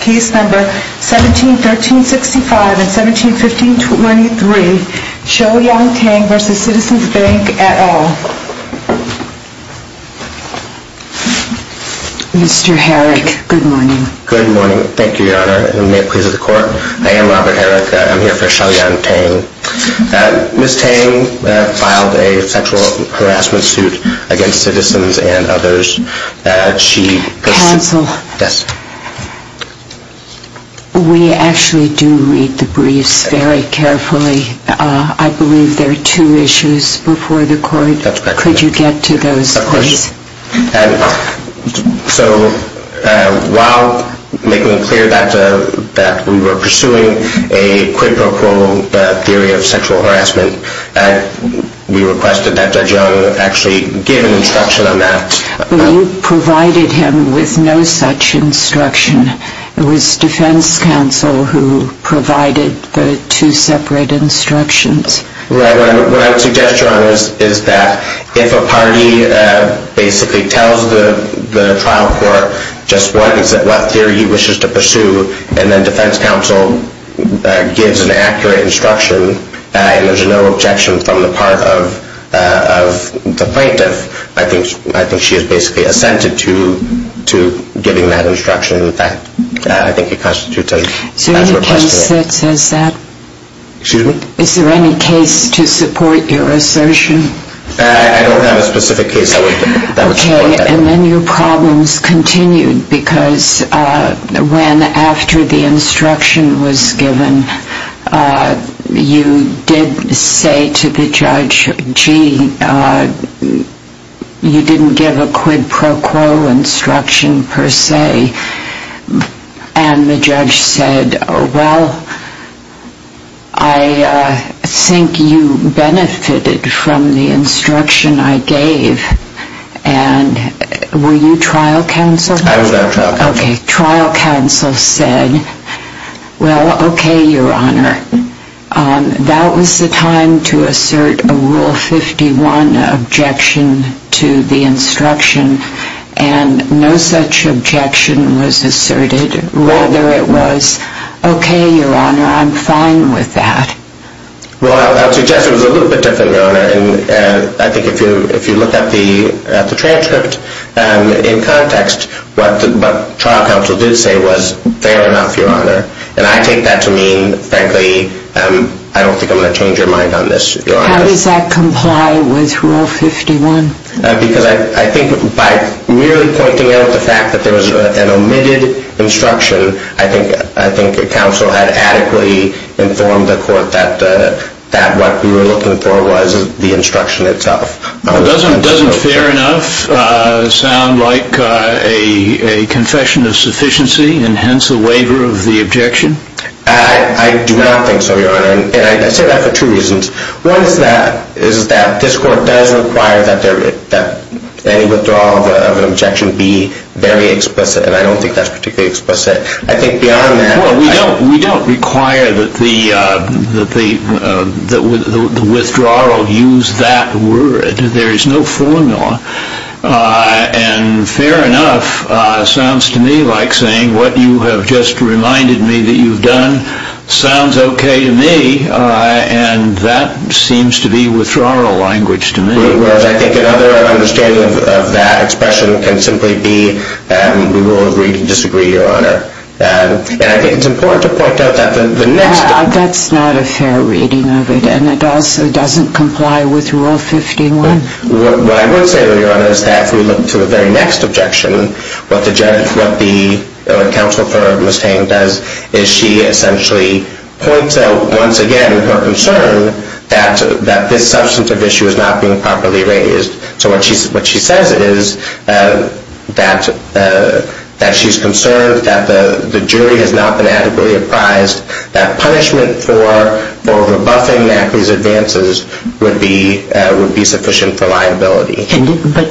Case No. 17-1365 and 17-1523, Shou-Yung Tang v. Citizens Bank et al. Mr. Herrick, good morning. Good morning. Thank you, Your Honor, and may it please the Court. I am Robert Herrick. I'm here for Shou-Yung Tang. Ms. Tang filed a sexual harassment suit against citizens and others. Counsel, we actually do read the briefs very carefully. I believe there are two issues before the Court. Could you get to those, please? So while making it clear that we were pursuing a quid pro quo theory of sexual harassment, we requested that Judge Young actually give an instruction on that. You provided him with no such instruction. It was defense counsel who provided the two separate instructions. Right. What I would suggest, Your Honor, is that if a party basically tells the trial court just what theory he wishes to pursue, and then defense counsel gives an accurate instruction, and there's no objection from the part of the plaintiff, I think she is basically assented to giving that instruction. In fact, I think it constitutes as requesting it. Is there any case that says that? Excuse me? Is there any case to support your assertion? I don't have a specific case that would support that. And then your problems continued because when, after the instruction was given, you did say to the judge, gee, you didn't give a quid pro quo instruction per se, and the judge said, well, I think you benefited from the instruction I gave. And were you trial counsel? I was not trial counsel. Okay. Trial counsel said, well, okay, Your Honor. That was the time to assert a Rule 51 objection to the instruction, and no such objection was asserted. Rather, it was, okay, Your Honor, I'm fine with that. Well, I would suggest it was a little bit different, Your Honor. And I think if you look at the transcript in context, what trial counsel did say was, fair enough, Your Honor. And I take that to mean, frankly, I don't think I'm going to change your mind on this, Your Honor. How does that comply with Rule 51? Because I think by really pointing out the fact that there was an omitted instruction, I think counsel had adequately informed the court that what we were looking for was the instruction itself. Doesn't fair enough sound like a confession of sufficiency and hence a waiver of the objection? I do not think so, Your Honor. And I say that for two reasons. One is that this court does require that any withdrawal of an objection be very explicit, and I don't think that's particularly explicit. I think beyond that. Well, we don't require that the withdrawal use that word. There is no formula. And fair enough sounds to me like saying what you have just reminded me that you've done sounds okay to me, and that seems to be withdrawal language to me. Whereas I think another understanding of that expression can simply be we will agree to disagree, Your Honor. And I think it's important to point out that the next. That's not a fair reading of it, and it also doesn't comply with Rule 51. What I would say, Your Honor, is that if we look to the very next objection, what the counsel for Mustang does is she essentially points out once again her concern that this substantive issue is not being properly raised. So what she says is that she's concerned that the jury has not been adequately apprised, that punishment for rebuffing Macri's advances would be sufficient for liability. But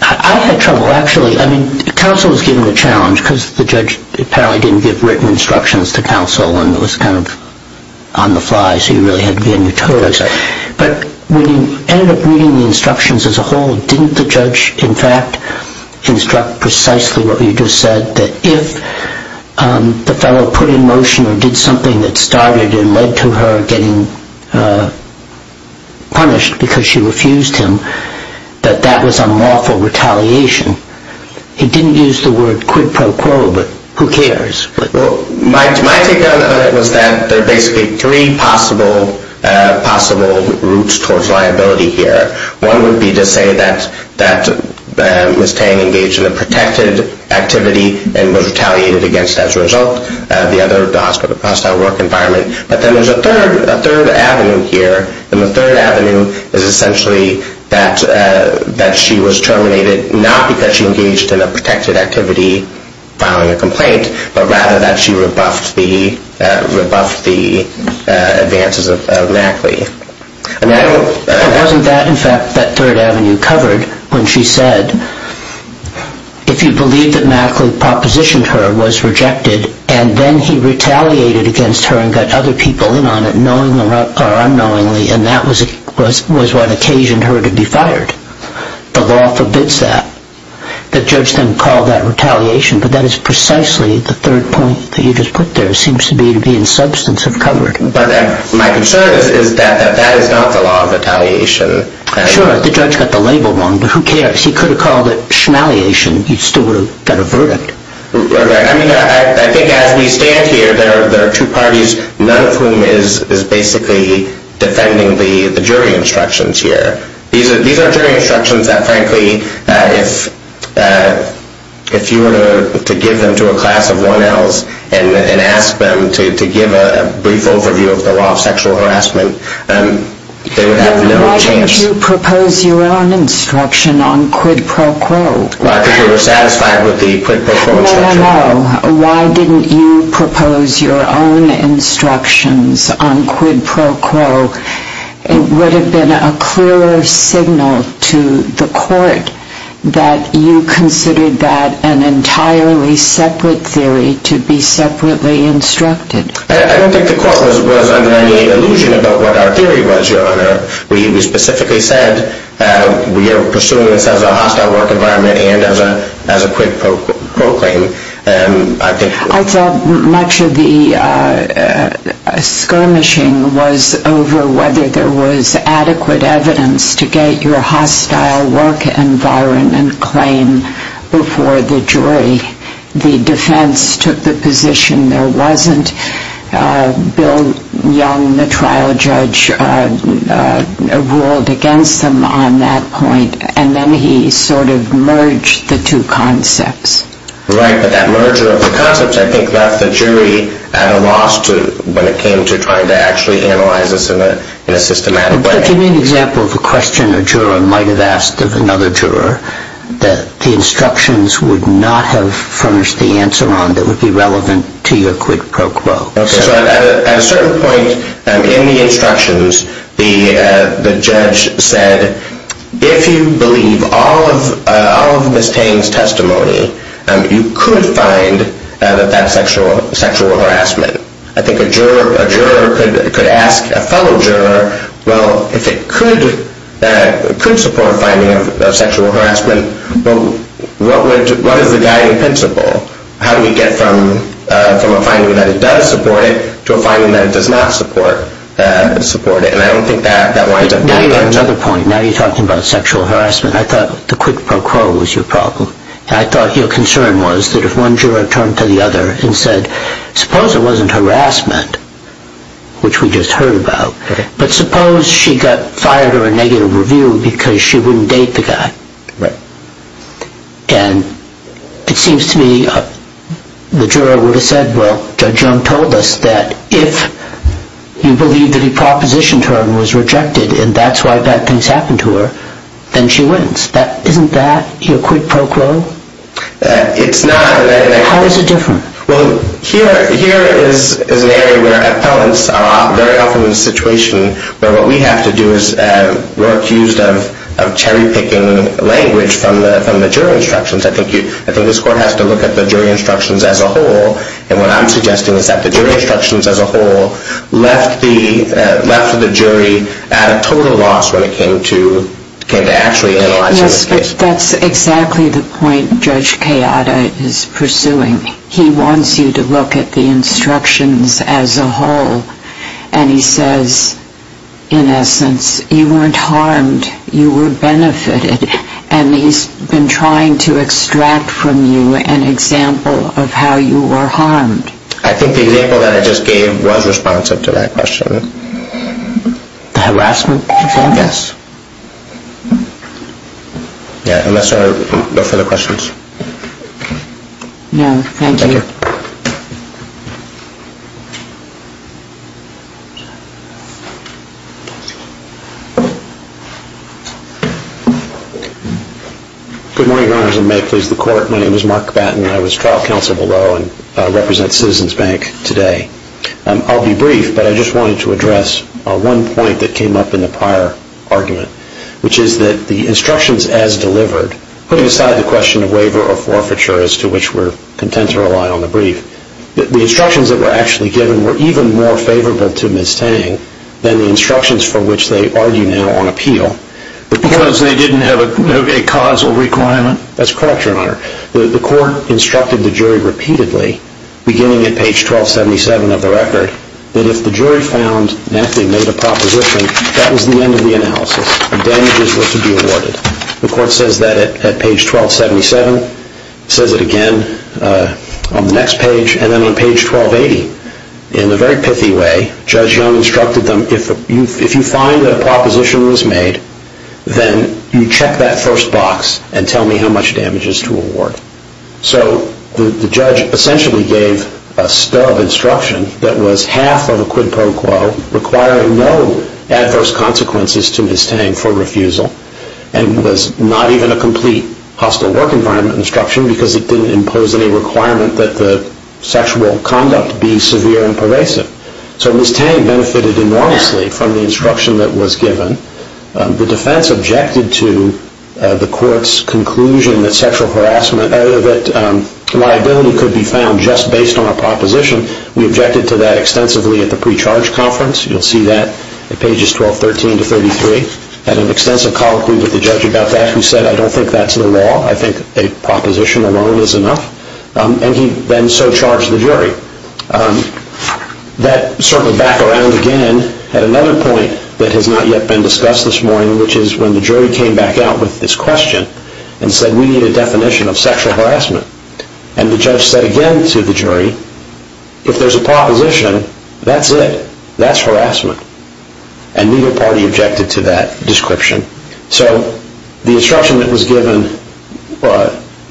I had trouble actually. I mean counsel was given a challenge because the judge apparently didn't give written instructions to counsel and it was kind of on the fly so you really had to be on your toes. But when you ended up reading the instructions as a whole, didn't the judge in fact instruct precisely what you just said that if the fellow put in motion or did something that started and led to her getting punished because she refused him, that that was unlawful retaliation? He didn't use the word quid pro quo, but who cares? My take on it was that there are basically three possible routes towards liability here. One would be to say that Mustang engaged in a protected activity and was retaliated against as a result. The other, the hostile work environment. But then there's a third avenue here and the third avenue is essentially that she was terminated not because she engaged in a protected activity, filing a complaint, but rather that she rebuffed the advances of Macri. And wasn't that in fact that third avenue covered when she said, if you believe that Macri propositioned her was rejected and then he retaliated against her and got other people in on it knowingly or unknowingly and that was what occasioned her to be fired. The law forbids that. The judge then called that retaliation, but that is precisely the third point that you just put there. It seems to be to be in substance of covered. But my concern is that that is not the law of retaliation. Sure, the judge got the label wrong, but who cares? He could have called it schmaliation. He still would have got a verdict. I mean, I think as we stand here, there are two parties, none of whom is basically defending the jury instructions here. These are jury instructions that frankly, if you were to give them to a class of 1Ls and ask them to give a brief overview of the law of sexual harassment, they would have no chance. Why didn't you propose your own instruction on quid pro quo? Because we were satisfied with the quid pro quo instruction. No, no, no. Why didn't you propose your own instructions on quid pro quo? It would have been a clearer signal to the court that you considered that an entirely separate theory to be separately instructed. I don't think the court was under any illusion about what our theory was, Your Honor, where you specifically said we are pursuing this as a hostile work environment and as a quid pro quo claim. I thought much of the skirmishing was over whether there was adequate evidence to get your hostile work environment claim before the jury. The defense took the position there wasn't. Bill Young, the trial judge, ruled against them on that point, and then he sort of merged the two concepts. Right, but that merger of the concepts I think left the jury at a loss when it came to trying to actually analyze this in a systematic way. But you made an example of a question a juror might have asked of another juror that the instructions would not have furnished the answer on that would be relevant to your quid pro quo. So at a certain point in the instructions, the judge said, if you believe all of Ms. Tain's testimony, you could find that that's sexual harassment. I think a juror could ask a fellow juror, well, if it could support finding of sexual harassment, what is the guiding principle? How do we get from a finding that it does support it to a finding that it does not support it? And I don't think that winds up being the answer. Now you have another point. Now you're talking about sexual harassment. I thought the quid pro quo was your problem. I thought your concern was that if one juror turned to the other and said, suppose it wasn't harassment, which we just heard about, but suppose she got fired or a negative review because she wouldn't date the guy. And it seems to me the juror would have said, well, Judge Young told us that if you believe that he propositioned her and was rejected, and that's why bad things happened to her, then she wins. Isn't that your quid pro quo? It's not. How is it different? Well, here is an area where appellants are very often in a situation where what we have to do is we're accused of cherry-picking language from the jury instructions. I think this court has to look at the jury instructions as a whole. And what I'm suggesting is that the jury instructions as a whole left the jury at a total loss when it came to actually analyzing the case. Yes, that's exactly the point Judge Kayada is pursuing. He wants you to look at the instructions as a whole. And he says, in essence, you weren't harmed, you were benefited. And he's been trying to extract from you an example of how you were harmed. I think the example that I just gave was responsive to that question. The harassment example? Yes. Yeah, unless there are no further questions. No, thank you. Thank you. Good morning, Your Honors, and may it please the Court. My name is Mark Batten. I was trial counsel below and represent Citizens Bank today. I'll be brief, but I just wanted to address one point that came up in the prior argument, which is that the instructions as delivered, putting aside the question of waiver or forfeiture, as to which we're content to rely on the brief, the instructions that were actually given were even more favorable to Ms. Tang than the instructions for which they argue now on appeal. Because they didn't have a causal requirement? That's correct, Your Honor. The court instructed the jury repeatedly, beginning at page 1277 of the record, that if the jury found that they made a proposition, that was the end of the analysis. The damages were to be awarded. The court says that at page 1277, says it again on the next page, and then on page 1280. In a very pithy way, Judge Young instructed them, if you find that a proposition was made, then you check that first box and tell me how much damage is to award. So the judge essentially gave a stub instruction that was half of a quid pro quo, requiring no adverse consequences to Ms. Tang for refusal, and was not even a complete hostile work environment instruction because it didn't impose any requirement that the sexual conduct be severe and pervasive. So Ms. Tang benefited enormously from the instruction that was given. The defense objected to the court's conclusion that sexual harassment, that liability could be found just based on a proposition. We objected to that extensively at the pre-charge conference. You'll see that at pages 1213 to 133. Had an extensive colloquy with the judge about that, who said, I don't think that's the law. I think a proposition alone is enough. And he then so charged the jury. That circled back around again at another point that has not yet been discussed this morning, which is when the jury came back out with this question and said we need a definition of sexual harassment. And the judge said again to the jury, if there's a proposition, that's it. That's harassment. And neither party objected to that description. So the instruction that was given,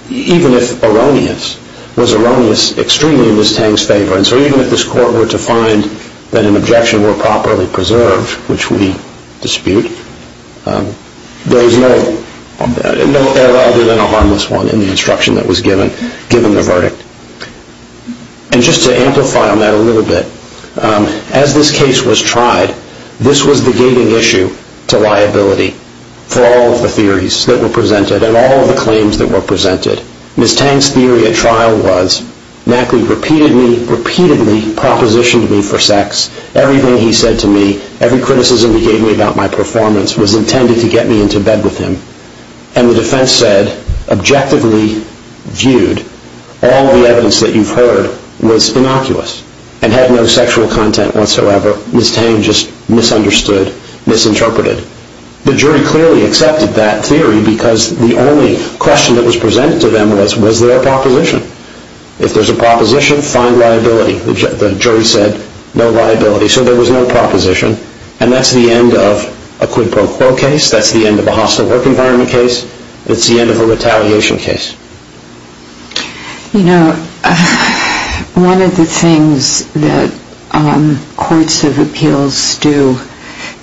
even if erroneous, was erroneous extremely in Ms. Tang's favor. And so even if this court were to find that an objection were properly preserved, which we dispute, there is no error other than a harmless one in the instruction that was given, given the verdict. And just to amplify on that a little bit, as this case was tried, this was the gating issue to liability for all of the theories that were presented and all of the claims that were presented. Ms. Tang's theory at trial was Mackley repeatedly, repeatedly propositioned me for sex. Everything he said to me, every criticism he gave me about my performance was intended to get me into bed with him. And the defense said, objectively viewed, all the evidence that you've heard was innocuous and had no sexual content whatsoever. Ms. Tang just misunderstood, misinterpreted. The jury clearly accepted that theory because the only question that was presented to them was their proposition. If there's a proposition, find liability. The jury said, no liability. So there was no proposition. And that's the end of a quid pro quo case. That's the end of a hostile work environment case. It's the end of a retaliation case. You know, one of the things that courts of appeals do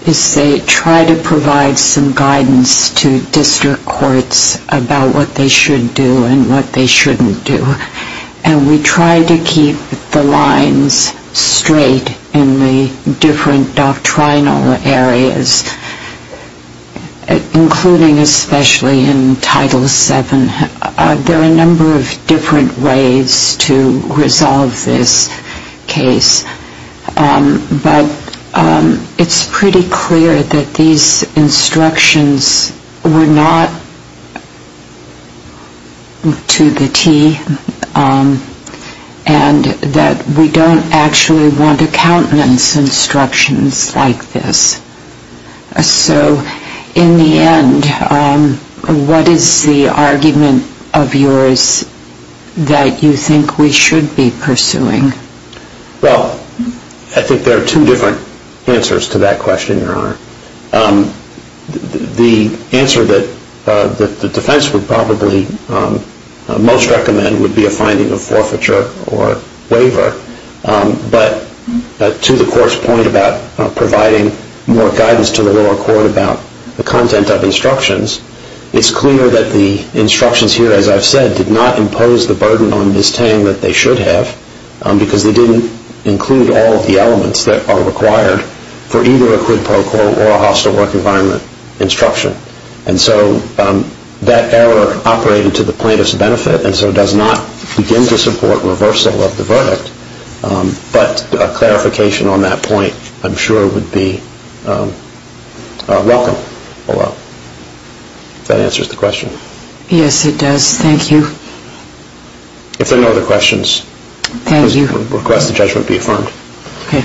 is they try to provide some guidance to district courts about what they should do and what they shouldn't do. And we try to keep the lines straight in the different doctrinal areas, including especially in Title VII. There are a number of different ways to resolve this case. But it's pretty clear that these instructions were not to the T and that we don't actually want accountants' instructions like this. So in the end, what is the argument of yours that you think we should be pursuing? Well, I think there are two different answers to that question, Your Honor. The answer that the defense would probably most recommend would be a finding of forfeiture or waiver. But to the court's point about providing more guidance to the lower court about the content of instructions, it's clear that the instructions here, as I've said, did not impose the burden on Ms. Tang that they should have because they didn't include all of the elements that are required for either a quid pro quo or a hostile work environment instruction. And so that error operated to the plaintiff's benefit and so does not begin to support reversal of the verdict. But a clarification on that point, I'm sure, would be welcome. Well, that answers the question. Yes, it does. Thank you. If there are no other questions, I would request the judgment be affirmed. Okay.